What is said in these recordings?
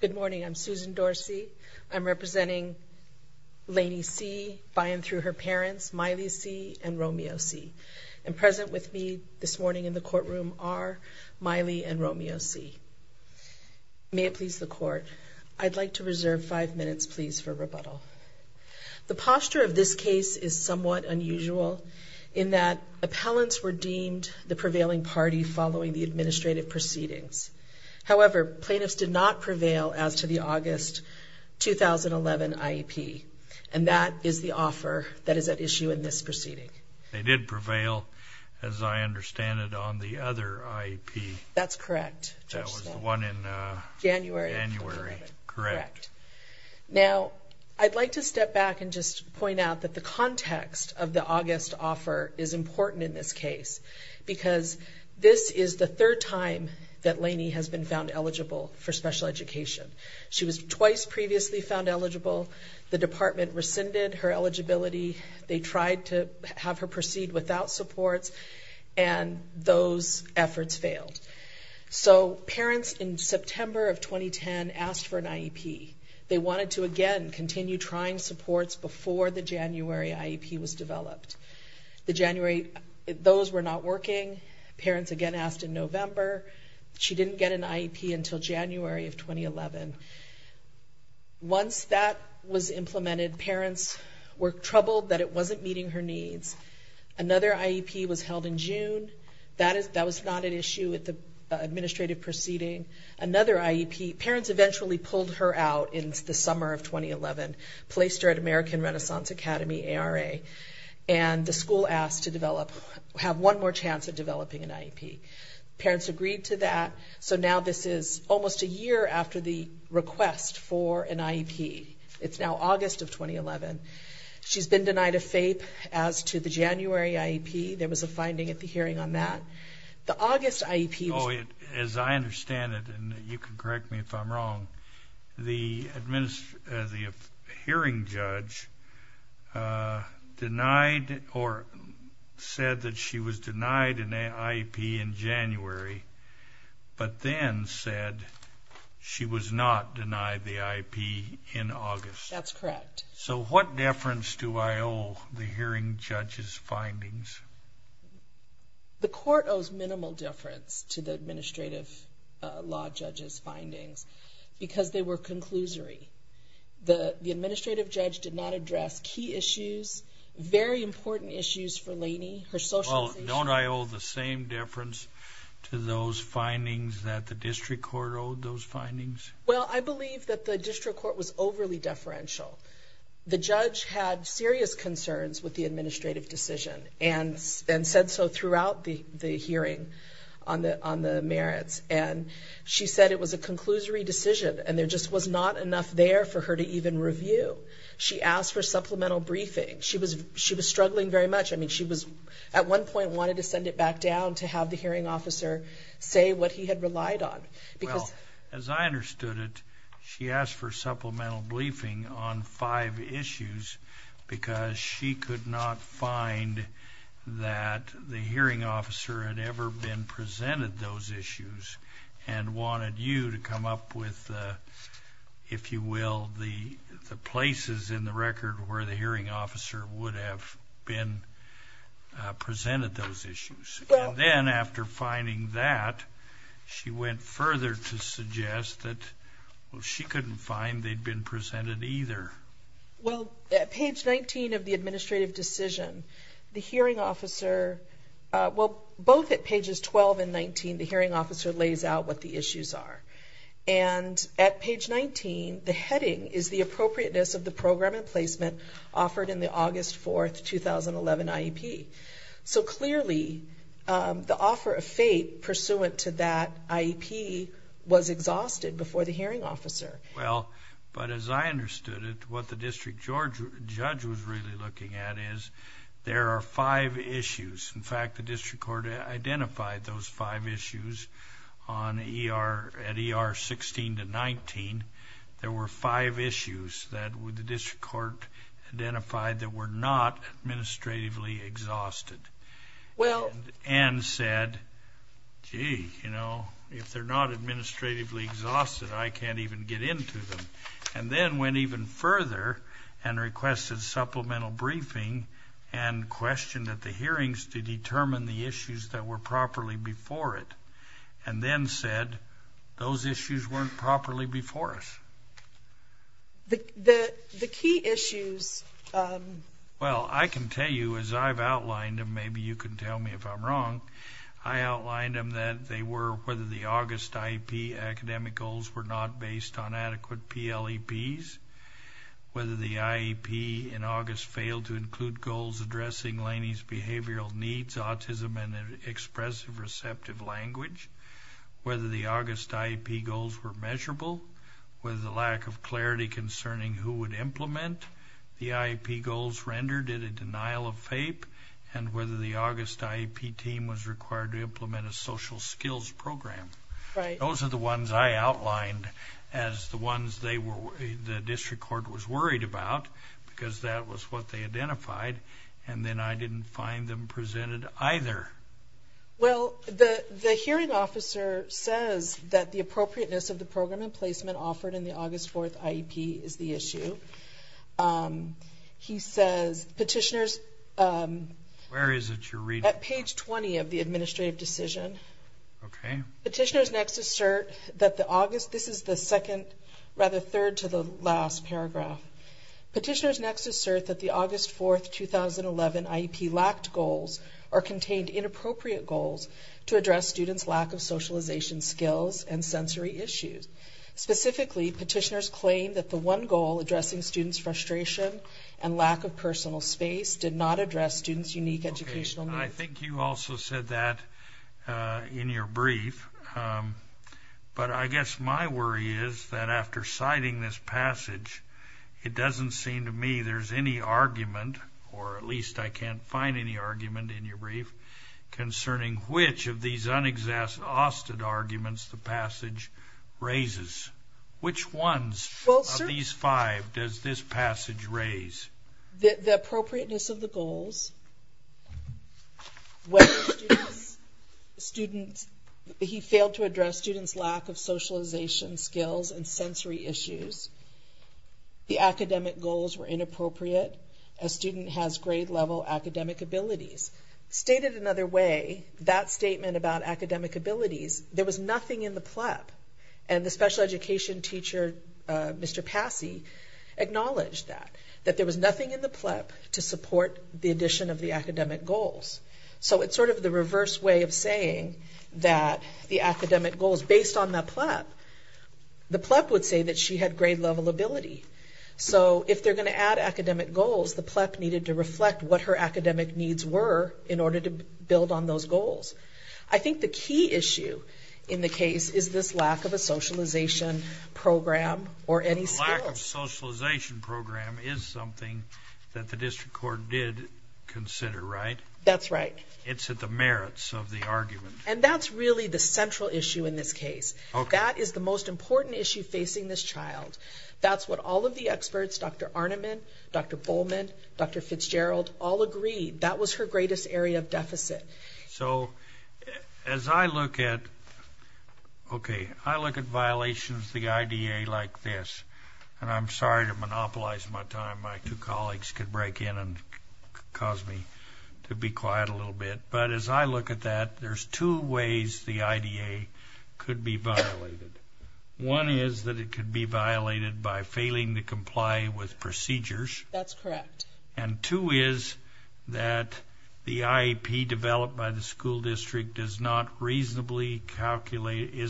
Good morning. I'm Susan Dorsey. I'm representing Lainey C. by and through her parents, Miley C. and Romeo C. And present with me this morning in the courtroom are Miley and Romeo C. May it please the Court, I'd like to reserve five minutes, please, for rebuttal. The posture of this case is somewhat unusual in that appellants were deemed the prevailing party following the administrative proceedings. However, plaintiffs did not prevail as to the August 2011 IEP, and that is the offer that is at issue in this proceeding. They did prevail, as I understand it, on the other IEP. That's correct. That was the one in January 2011. January, correct. Now, I'd like to step back and just point out that the context of the August offer is important in this case because this is the third time that Lainey has been found eligible for special education. She was twice previously found eligible. The department rescinded her eligibility. They tried to have her proceed without supports, and those efforts failed. So parents in September of 2010 asked for an IEP. They wanted to, again, continue trying supports before the January IEP was developed. Those were not working. Parents, again, asked in November. She didn't get an IEP until January of 2011. Once that was implemented, parents were troubled that it wasn't meeting her needs. Another IEP was held in June. That was not an issue at the administrative proceeding. Another IEP, parents eventually pulled her out in the summer of 2011, placed her at American Renaissance Academy, ARA, and the school asked to have one more chance at developing an IEP. Parents agreed to that. So now this is almost a year after the request for an IEP. It's now August of 2011. She's been denied a FAPE as to the January IEP. There was a finding at the hearing on that. The August IEP was... Denied or said that she was denied an IEP in January, but then said she was not denied the IEP in August. That's correct. So what deference do I owe the hearing judge's findings? The court owes minimal difference to the administrative law judge's findings because they were conclusory. The administrative judge did not address key issues, very important issues for Laney, her socialization... Well, don't I owe the same deference to those findings that the district court owed those findings? Well, I believe that the district court was overly deferential. The judge had serious concerns with the administrative decision and said so throughout the hearing on the merits. And she said it was a conclusory decision and there just was not enough there for her to even review. She asked for supplemental briefing. She was struggling very much. I mean, she was, at one point, wanted to send it back down to have the hearing officer say what he had relied on. Well, as I understood it, she asked for supplemental briefing on five issues because she could not find that the hearing officer had ever been presented those issues and wanted you to come up with, if you will, the places in the record where the hearing officer would have been presented those issues. And then after finding that, she went further to suggest that she couldn't find they'd been presented either. Well, at page 19 of the administrative decision, the hearing officer... Well, both at pages 12 and 19, the hearing officer lays out what the issues are. And at page 19, the heading is the appropriateness of the program and placement offered in the August 4, 2011 IEP. So clearly, the offer of fate pursuant to that IEP was exhausted before the hearing officer. Well, but as I understood it, what the district judge was really looking at is there are five issues. In fact, the district court identified those five issues at ER 16 to 19. There were five issues that the district court identified that were not administratively exhausted. Well... And said, gee, you know, if they're not administratively exhausted, I can't even get into them. And then went even further and requested supplemental briefing and questioned at the hearings to determine the issues that were properly before it. And then said, those issues weren't properly before us. The key issues... Well, I can tell you, as I've outlined them, maybe you can tell me if I'm wrong, I outlined them that they were whether the August IEP academic goals were not based on adequate PLEPs, whether the IEP in August failed to include goals addressing Laney's behavioral needs, autism, and expressive receptive language, whether the August IEP goals were measurable, whether the lack of clarity concerning who would implement the IEP goals rendered it a denial of FAPE, and whether the August IEP team was required to implement a social skills program. Those are the ones I outlined as the ones the district court was worried about because that was what they identified. And then I didn't find them presented either. Well, the hearing officer says that the appropriateness of the program and placement offered in the August 4th IEP is the issue. He says, petitioners... Where is it you're reading from? At page 20 of the administrative decision. Okay. Petitioners next assert that the August, this is the second, rather third to the last paragraph. Petitioners next assert that the August 4th, 2011 IEP lacked goals or contained inappropriate goals to address students' lack of socialization skills and sensory issues. Specifically, petitioners claim that the one goal addressing students' frustration and lack of personal space did not address students' unique educational needs. I think you also said that in your brief. But I guess my worry is that after citing this passage, it doesn't seem to me there's any argument, or at least I can't find any argument in your brief, concerning which of these unexhausted arguments the passage raises. Which ones of these five does this passage raise? The appropriateness of the goals, whether students, he failed to address students' lack of socialization skills and sensory issues, the academic goals were inappropriate, a student has grade-level academic abilities. Stated another way, that statement about academic abilities, there was nothing in the PLEP. And the special education teacher, Mr. Passey, acknowledged that, that there was nothing in the PLEP to support the addition of the academic goals. So it's sort of the reverse way of saying that the academic goals, based on the PLEP, the PLEP would say that she had grade-level ability. So if they're going to add academic goals, the PLEP needed to reflect what her academic needs were in order to build on those goals. I think the key issue in the case is this lack of a socialization program or any skills. The lack of a socialization program is something that the district court did consider, right? That's right. It's at the merits of the argument. And that's really the central issue in this case. That is the most important issue facing this child. That's what all of the experts, Dr. Arneman, Dr. Bowman, Dr. Fitzgerald, all agreed. That was her greatest area of deficit. So as I look at, okay, I look at violations of the IDA like this, and I'm sorry to monopolize my time. My two colleagues could break in and cause me to be quiet a little bit. But as I look at that, there's two ways the IDA could be violated. One is that it could be violated by failing to comply with procedures. That's correct. And two is that the IEP developed by the school district is not reasonably calculated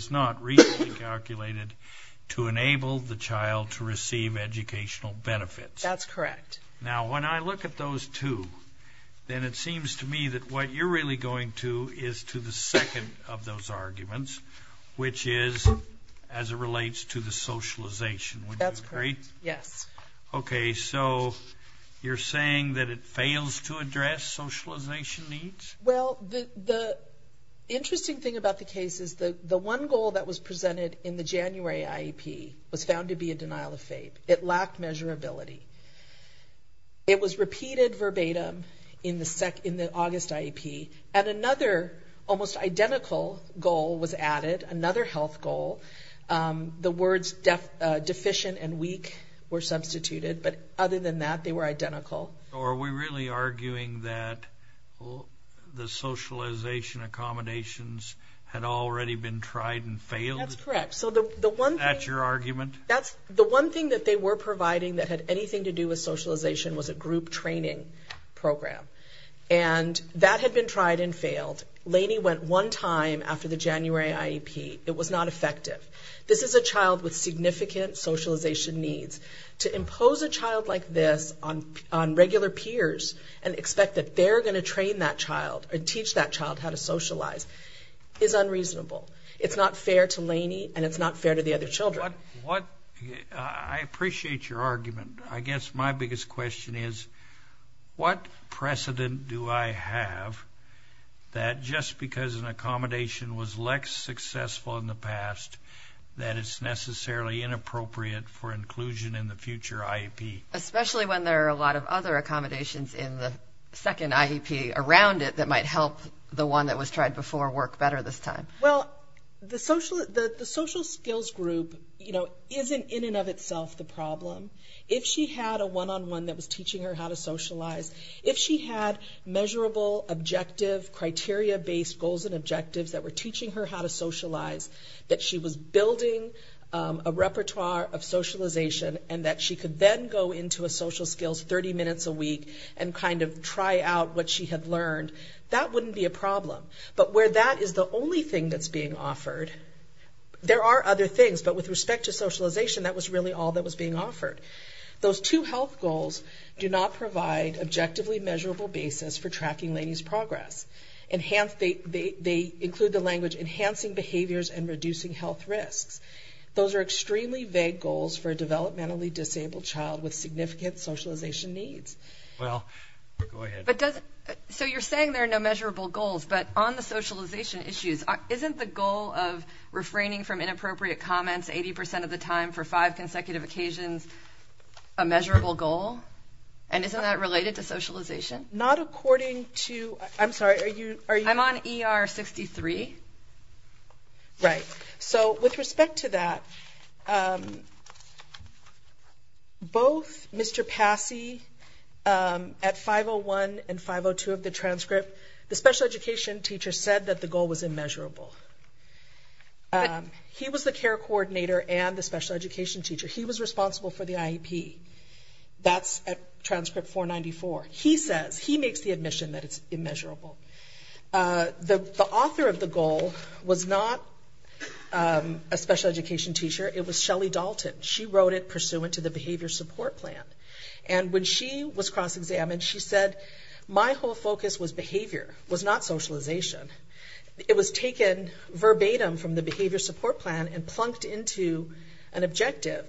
to enable the child to receive educational benefits. That's correct. Now, when I look at those two, then it seems to me that what you're really going to is to the second of those arguments, which is as it relates to the socialization. Would you agree? That's correct, yes. Okay, so you're saying that it fails to address socialization needs? Well, the interesting thing about the case is the one goal that was presented in the January IEP was found to be a denial of faith. It lacked measurability. It was repeated verbatim in the August IEP, and another almost identical goal was added, another health goal. The words deficient and weak were substituted, but other than that, they were identical. Are we really arguing that the socialization accommodations had already been tried and failed? That's correct. Is that your argument? The one thing that they were providing that had anything to do with socialization was a group training program, and that had been tried and failed. Laney went one time after the January IEP. It was not effective. This is a child with significant socialization needs. To impose a child like this on regular peers and expect that they're going to train that child or teach that child how to socialize is unreasonable. It's not fair to Laney, and it's not fair to the other children. I appreciate your argument. I guess my biggest question is what precedent do I have that just because an accommodation was less successful in the past that it's necessarily inappropriate for inclusion in the future IEP? Especially when there are a lot of other accommodations in the second IEP around it that might help the one that was tried before work better this time. Well, the social skills group isn't in and of itself the problem. If she had a one-on-one that was teaching her how to socialize, if she had measurable objective criteria-based goals and objectives that were teaching her how to socialize, that she was building a repertoire of socialization and that she could then go into a social skills 30 minutes a week and kind of try out what she had learned, that wouldn't be a problem. But where that is the only thing that's being offered, there are other things. But with respect to socialization, that was really all that was being offered. Those two health goals do not provide objectively measurable basis for tracking Laney's progress. They include the language enhancing behaviors and reducing health risks. Those are extremely vague goals for a developmentally disabled child with significant socialization needs. Well, go ahead. So you're saying there are no measurable goals, but on the socialization issues, isn't the goal of refraining from inappropriate comments 80% of the time for five consecutive occasions a measurable goal? And isn't that related to socialization? Not according to- I'm sorry, are you- I'm on ER 63. Right. So with respect to that, both Mr. Passey at 501 and 502 of the transcript, the special education teacher said that the goal was immeasurable. He was the care coordinator and the special education teacher. He was responsible for the IEP. That's at transcript 494. He says, he makes the admission that it's immeasurable. The author of the goal was not a special education teacher. It was Shelly Dalton. She wrote it pursuant to the behavior support plan. And when she was cross-examined, she said, my whole focus was behavior, was not socialization. It was taken verbatim from the behavior support plan and plunked into an objective.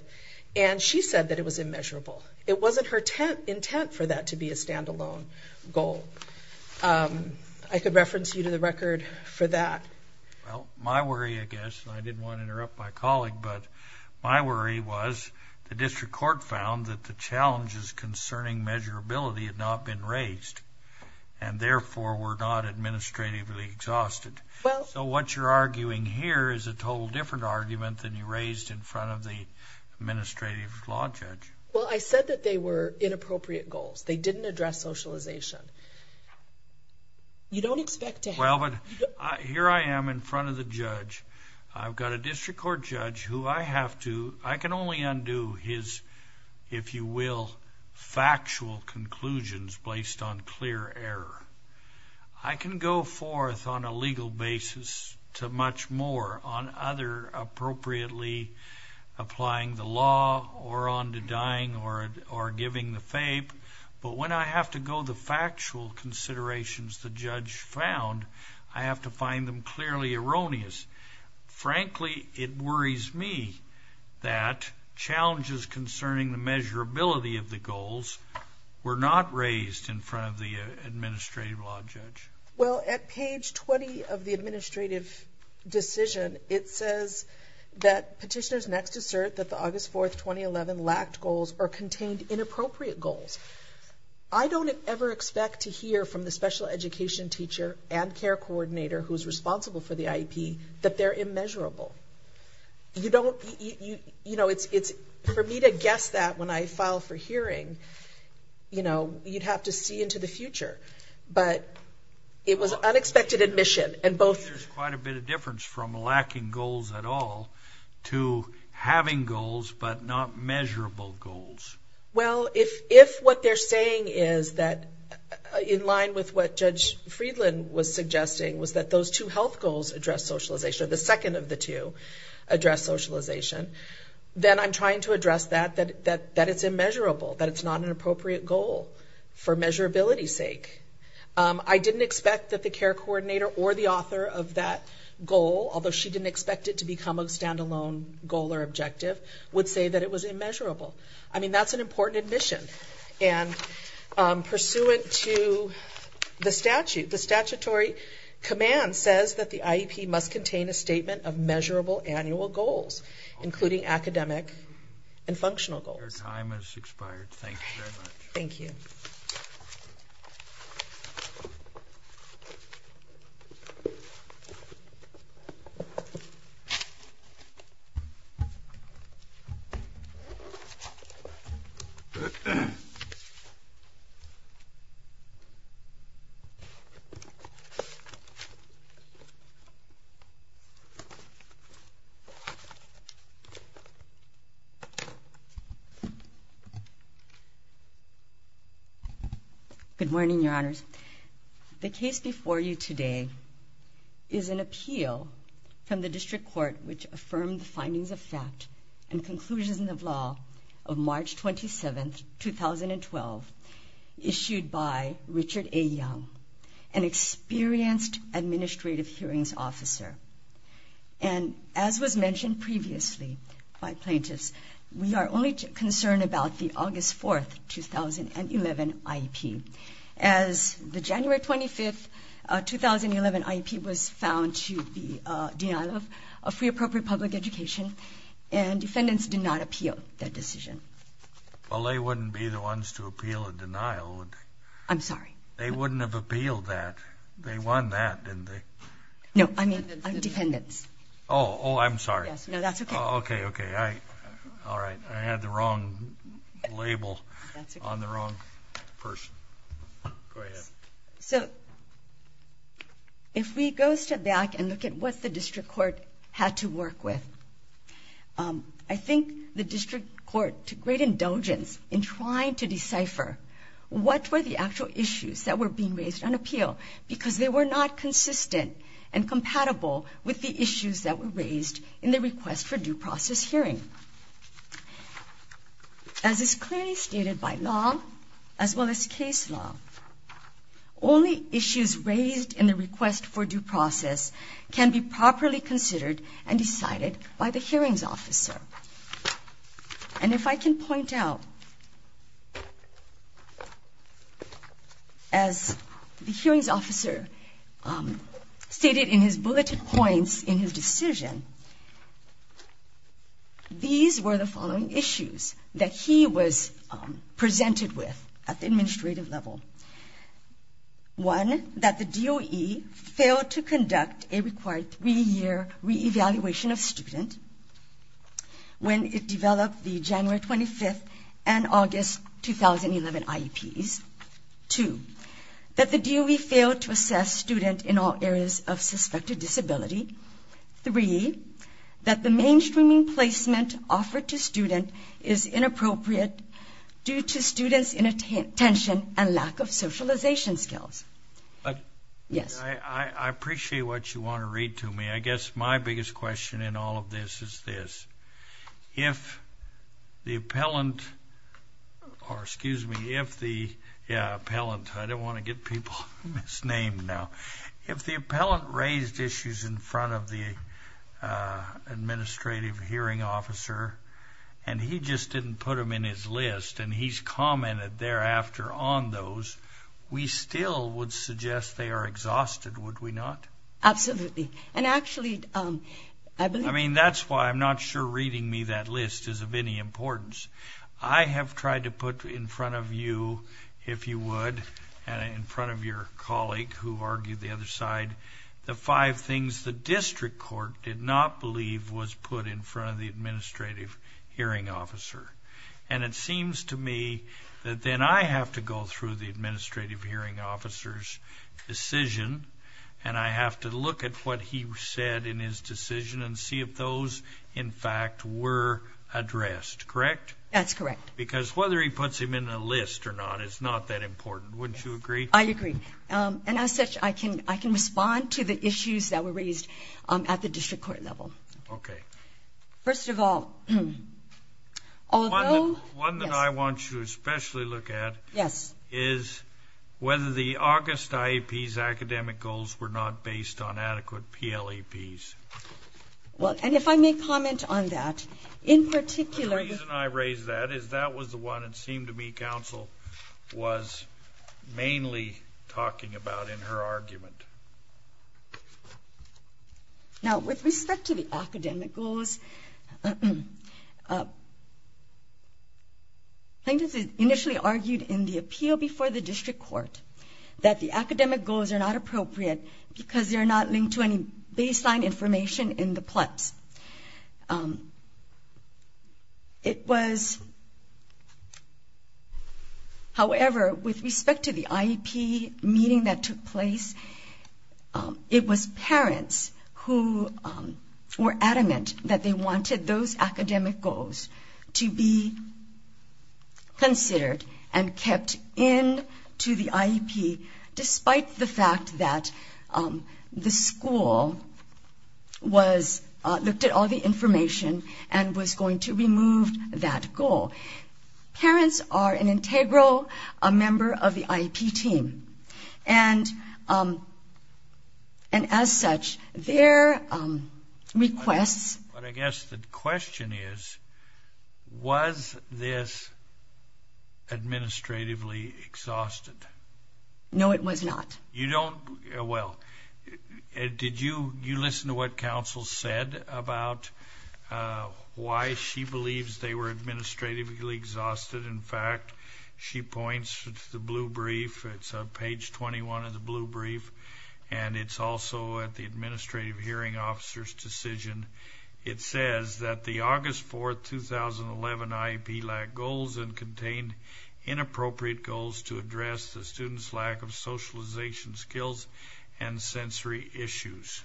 And she said that it was immeasurable. It wasn't her intent for that to be a standalone goal. I could reference you to the record for that. Well, my worry, I guess, and I didn't want to interrupt my colleague, but my worry was the district court found that the challenges concerning measurability had not been raised, and therefore were not administratively exhausted. So what you're arguing here is a total different argument than you raised in front of the administrative law judge. Well, I said that they were inappropriate goals. They didn't address socialization. You don't expect to have... Well, but here I am in front of the judge. I've got a district court judge who I have to, I can only undo his, if you will, factual conclusions based on clear error. I can go forth on a legal basis to much more on other appropriately applying the law or on to dying or giving the fape. But when I have to go the factual considerations the judge found, I have to find them clearly erroneous. Frankly, it worries me that challenges concerning the measurability of the goals were not raised in front of the administrative law judge. Well, at page 20 of the administrative decision, it says that petitioners next assert that the August 4, 2011, lacked goals or contained inappropriate goals. I don't ever expect to hear from the special education teacher and care coordinator who's responsible for the IEP that they're immeasurable. You don't, you know, it's for me to guess that when I file for hearing, you know, you'd have to see into the future. But it was unexpected admission, and both... to having goals but not measurable goals. Well, if what they're saying is that in line with what Judge Friedland was suggesting was that those two health goals address socialization, or the second of the two address socialization, then I'm trying to address that, that it's immeasurable, that it's not an appropriate goal for measurability's sake. I didn't expect that the care coordinator or the author of that goal, although she didn't expect it to become a stand-alone goal or objective, would say that it was immeasurable. I mean, that's an important admission. And pursuant to the statute, the statutory command says that the IEP must contain a statement of measurable annual goals, including academic and functional goals. Your time has expired. Thank you very much. Thank you. Thank you. Good morning, Your Honors. The case before you today is an appeal from the District Court which affirmed the findings of fact and conclusions of law of March 27, 2012, issued by Richard A. Young, an experienced administrative hearings officer. And as was mentioned previously by plaintiffs, we are only concerned about the August 4, 2011, IEP. As the January 25, 2011, IEP was found to be a denial of free, appropriate public education, and defendants did not appeal that decision. Well, they wouldn't be the ones to appeal a denial, would they? I'm sorry? They wouldn't have appealed that. They won that, didn't they? No, I mean defendants. Oh, I'm sorry. No, that's okay. Okay, okay. All right, all right. I had the wrong label on the wrong person. Go ahead. So if we go step back and look at what the District Court had to work with, I think the District Court took great indulgence in trying to decipher what were the actual issues that were being raised on appeal because they were not consistent and compatible with the issues that were raised in the request for due process hearing. As is clearly stated by law, as well as case law, only issues raised in the request for due process can be properly considered and decided by the hearings officer. And if I can point out, as the hearings officer stated in his bulleted points in his decision, these were the following issues that he was presented with at the administrative level. One, that the DOE failed to conduct a required three-year re-evaluation of student when it developed the January 25th and August 2011 IEPs. Two, that the DOE failed to assess student in all areas of suspected disability. Three, that the mainstreaming placement offered to student is inappropriate due to student's inattention and lack of socialization skills. I appreciate what you want to read to me. I guess my biggest question in all of this is this. If the appellant raised issues in front of the administrative hearing officer and he just didn't put them in his list and he's commented thereafter on those, we still would suggest they are exhausted, would we not? Absolutely. And actually, I believe... I mean, that's why I'm not sure reading me that list is of any importance. I have tried to put in front of you, if you would, and in front of your colleague who argued the other side, the five things the district court did not believe was put in front of the administrative hearing officer. And it seems to me that then I have to go through the administrative hearing officer's decision and I have to look at what he said in his decision and see if those, in fact, were addressed, correct? That's correct. Because whether he puts them in a list or not is not that important. Wouldn't you agree? I agree. And as such, I can respond to the issues that were raised at the district court level. Okay. First of all, although... One that I want you to especially look at... Yes. ...is whether the August IEP's academic goals were not based on adequate PLAPs. Well, and if I may comment on that, in particular... The reason I raise that is that was the one, it seemed to me, counsel was mainly talking about in her argument. Now, with respect to the academic goals, plaintiffs initially argued in the appeal before the district court that the academic goals are not appropriate because they're not linked to any baseline information in the PLAPs. It was... However, with respect to the IEP meeting that took place, it was parents who were adamant that they wanted those academic goals to be considered and kept in to the IEP, despite the fact that the school looked at all the information and was going to remove that goal. Parents are an integral member of the IEP team. And as such, their requests... But I guess the question is, was this administratively exhausted? No, it was not. You don't... Well, did you listen to what counsel said about why she believes they were administratively exhausted? In fact, she points to the blue brief. It's on page 21 of the blue brief, and it's also at the administrative hearing officer's decision. It says that the August 4, 2011, IEP lacked goals and contained inappropriate goals to address the students' lack of socialization skills and sensory issues.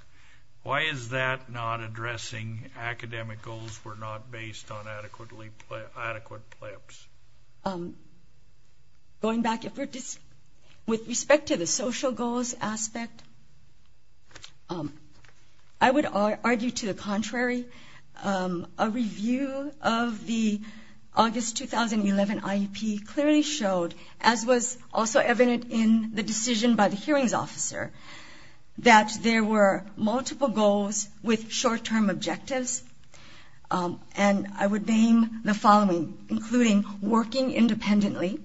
Why is that not addressing academic goals were not based on adequate play-ups? Going back, with respect to the social goals aspect, I would argue to the contrary. A review of the August 2011 IEP clearly showed, as was also evident in the decision by the hearings officer, that there were multiple goals with short-term objectives. And I would name the following, including working independently,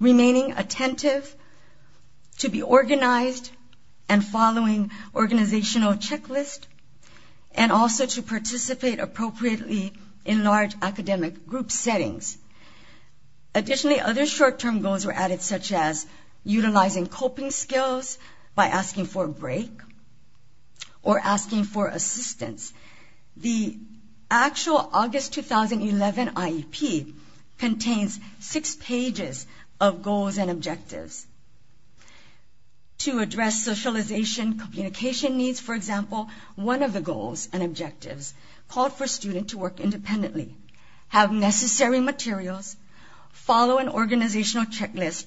remaining attentive to be organized and following organizational checklists, and also to participate appropriately in large academic group settings. Additionally, other short-term goals were added, such as utilizing coping skills by asking for a break or asking for assistance. The actual August 2011 IEP contains six pages of goals and objectives. To address socialization communication needs, for example, one of the goals and objectives called for students to work independently, have necessary materials, follow an organizational checklist,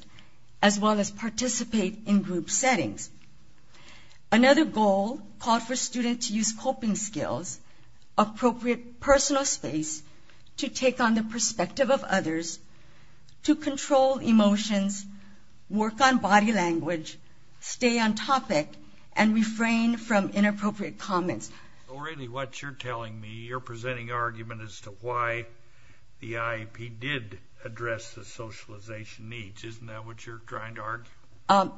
as well as participate in group settings. Another goal called for students to use coping skills, appropriate personal space, to take on the perspective of others, to control emotions, work on body language, stay on topic, and refrain from inappropriate comments. So really what you're telling me, you're presenting argument as to why the IEP did address the socialization needs. Isn't that what you're trying to argue?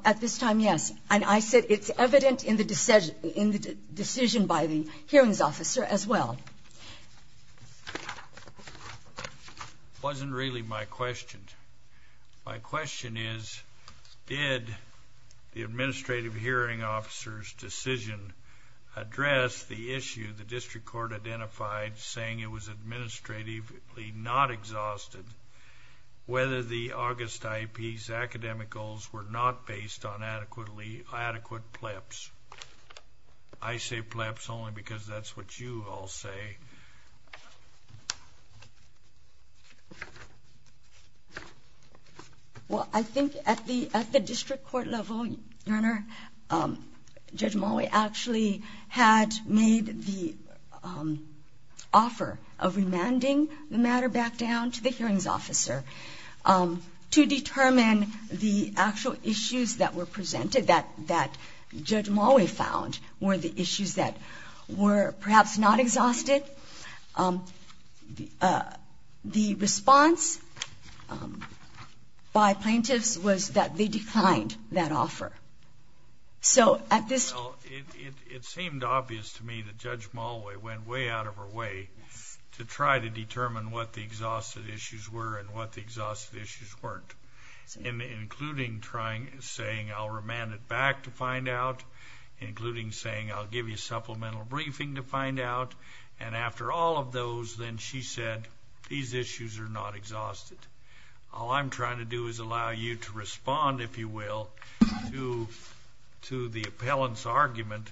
At this time, yes. And I said it's evident in the decision by the hearings officer as well. It wasn't really my question. My question is, did the administrative hearing officer's decision address the issue the district court identified saying it was administratively not exhausted, whether the August IEP's academic goals were not based on adequate PLEPs? I say PLEPs only because that's what you all say. Well, I think at the district court level, Your Honor, Judge Mulway actually had made the offer of remanding the matter back down to the hearings officer to determine the actual issues that were presented that Judge Mulway found were the issues that were perhaps not exhausted. The response by plaintiffs was that they declined that offer. It seemed obvious to me that Judge Mulway went way out of her way to try to determine what the exhausted issues were and what the exhausted issues weren't, including saying I'll remand it back to find out, including saying I'll give you a supplemental briefing to find out. And after all of those, then she said these issues are not exhausted. All I'm trying to do is allow you to respond, if you will, to the appellant's argument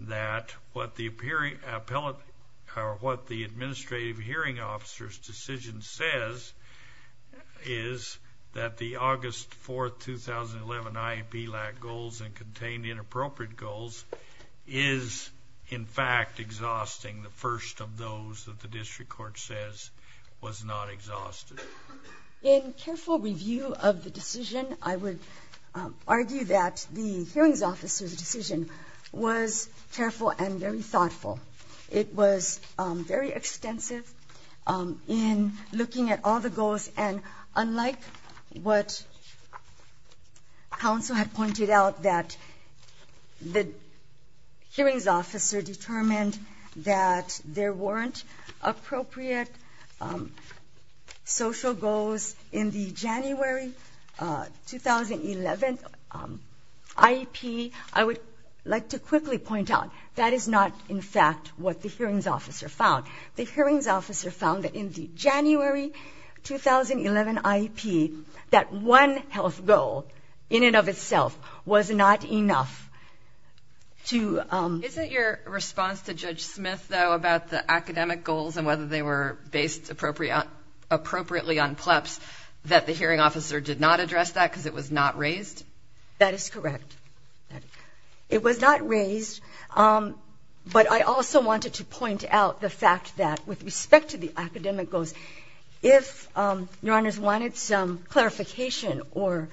that what the administrative hearing officer's decision says is that the August 4, 2011 IAP LAC goals and contained inappropriate goals is in fact exhausting the first of those that the district court says was not exhausted. In careful review of the decision, I would argue that the hearings officer's decision was careful and very thoughtful. It was very extensive in looking at all the goals, and unlike what counsel had pointed out that the hearings officer determined that there weren't appropriate social goals in the January 2011 IAP, I would like to quickly point out that is not in fact what the hearings officer found. The hearings officer found that in the January 2011 IAP, that one health goal in and of itself was not enough to... Isn't your response to Judge Smith, though, about the academic goals and whether they were based appropriately on PLEPs, that the hearing officer did not address that because it was not raised? That is correct. It was not raised, but I also wanted to point out the fact that with respect to the academic goals, if your honors wanted some clarification or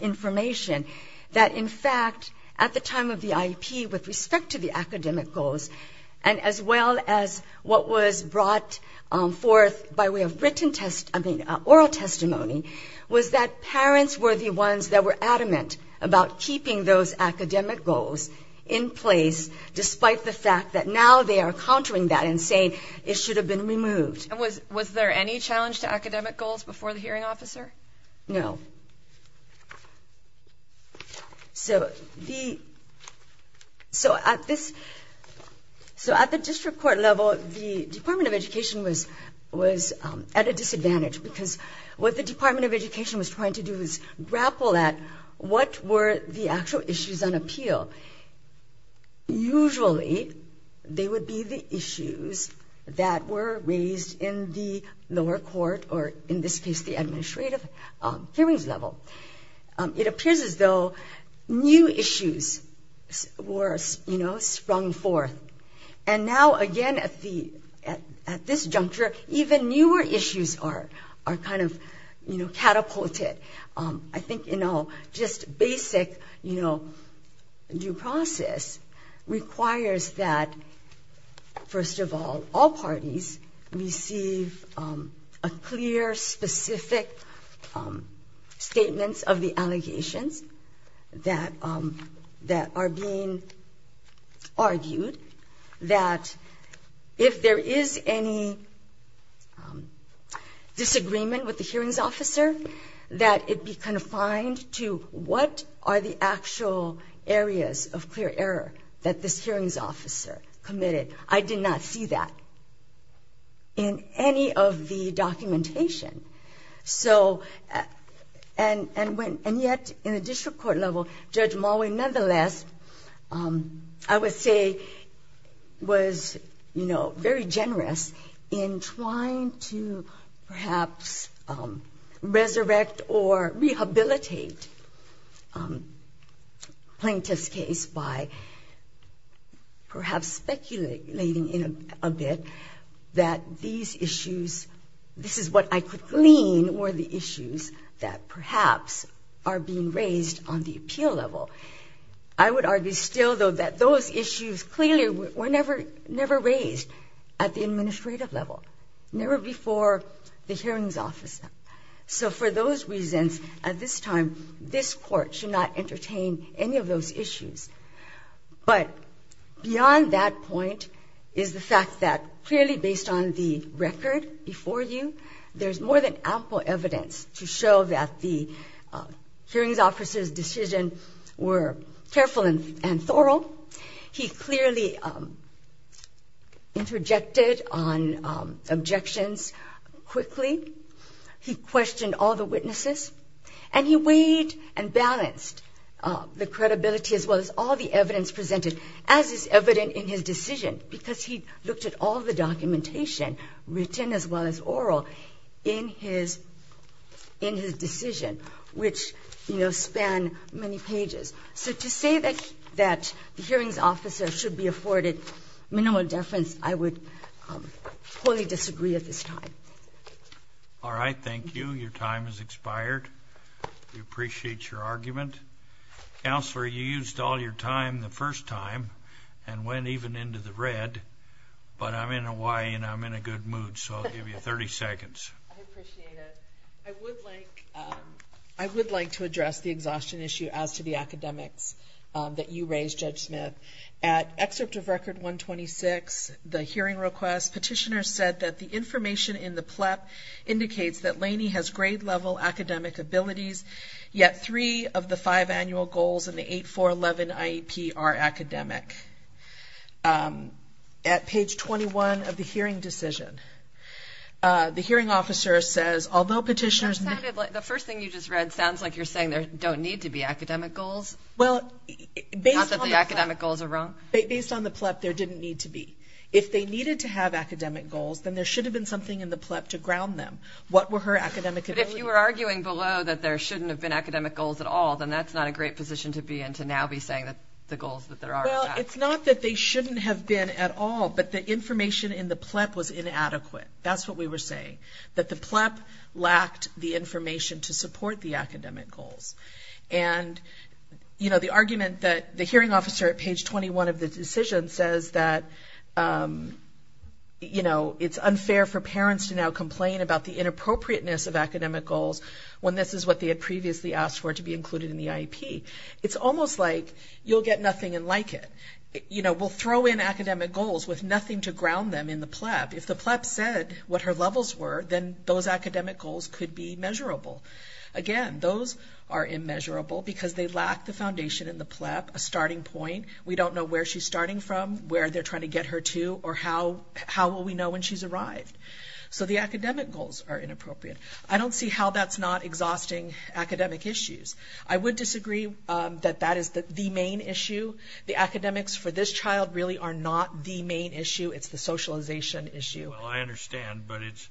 information, that in fact at the time of the IAP with respect to the academic goals and as well as what was brought forth by way of oral testimony was that parents were the ones that were adamant about keeping those academic goals in place despite the fact that now they are countering that and saying it should have been removed. Was there any challenge to academic goals before the hearing officer? No. So at the district court level, the Department of Education was at a disadvantage because what the Department of Education was trying to do is grapple at what were the actual issues on appeal. Usually they would be the issues that were raised in the lower court or in this case the administrative hearings level. It appears as though new issues were sprung forth. And now again at this juncture, even newer issues are kind of catapulted. I think just basic due process requires that first of all, that all parties receive a clear, specific statements of the allegations that are being argued that if there is any disagreement with the hearings officer, that it be confined to what are the actual areas of clear error that this hearings officer committed. I did not see that in any of the documentation. And yet in the district court level, Judge Mulway nonetheless, I would say, was very generous in trying to perhaps resurrect or rehabilitate Plaintiff's case by perhaps speculating a bit that these issues, this is what I could glean, were the issues that perhaps are being raised on the appeal level. I would argue still though that those issues clearly were never raised at the administrative level, never before the hearings officer. So for those reasons, at this time, this court should not entertain any of those issues. But beyond that point is the fact that clearly based on the record before you, there's more than ample evidence to show that the hearings officer's decision were careful and thorough. He clearly interjected on objections quickly. He questioned all the witnesses. And he weighed and balanced the credibility as well as all the evidence presented as is evident in his decision because he looked at all the documentation, written as well as oral, in his decision, which span many pages. So to say that the hearings officer should be afforded minimal deference, I would wholly disagree at this time. All right. Thank you. Your time has expired. We appreciate your argument. Counselor, you used all your time the first time and went even into the red, but I'm in Hawaii and I'm in a good mood, so I'll give you 30 seconds. I appreciate it. I would like to address the exhaustion issue as to the academics that you raised, Judge Smith. At excerpt of Record 126, the hearing request, petitioner said that the information in the PLEP indicates that Laney has grade-level academic abilities, yet three of the five annual goals in the 8.411 IEP are academic. At page 21 of the hearing decision, the hearing officer says, The first thing you just read sounds like you're saying there don't need to be academic goals, not that the academic goals are wrong. Based on the PLEP, there didn't need to be. If they needed to have academic goals, then there should have been something in the PLEP to ground them. What were her academic abilities? But if you were arguing below that there shouldn't have been academic goals at all, then that's not a great position to be in, to now be saying that the goals that there are are bad. Well, it's not that they shouldn't have been at all, but the information in the PLEP was inadequate. That's what we were saying, that the PLEP lacked the information to support the academic goals. And, you know, the argument that the hearing officer at page 21 of the decision says that, you know, it's unfair for parents to now complain about the inappropriateness of academic goals when this is what they had previously asked for to be included in the IEP. It's almost like you'll get nothing and like it. You know, we'll throw in academic goals with nothing to ground them in the PLEP. If the PLEP said what her levels were, then those academic goals could be measurable. Again, those are immeasurable because they lack the foundation in the PLEP, a starting point. We don't know where she's starting from, where they're trying to get her to, or how will we know when she's arrived. So the academic goals are inappropriate. I don't see how that's not exhausting academic issues. I would disagree that that is the main issue. The academics for this child really are not the main issue. It's the socialization issue. Well, I understand, but it's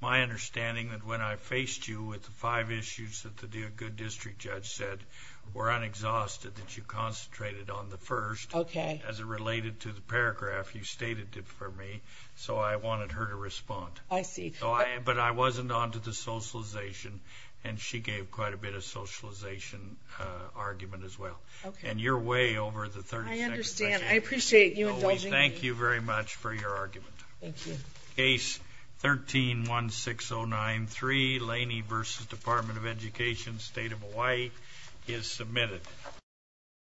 my understanding that when I faced you with the five issues that the good district judge said were unexhausted that you concentrated on the first. Okay. As it related to the paragraph you stated for me, so I wanted her to respond. I see. But I wasn't on to the socialization, and she gave quite a bit of socialization argument as well. Okay. And you're way over the 30-second threshold. I understand. I appreciate you indulging me. No, we thank you very much for your argument. Thank you. Case 13-16093, Laney v. Department of Education, State of Hawaii, is submitted.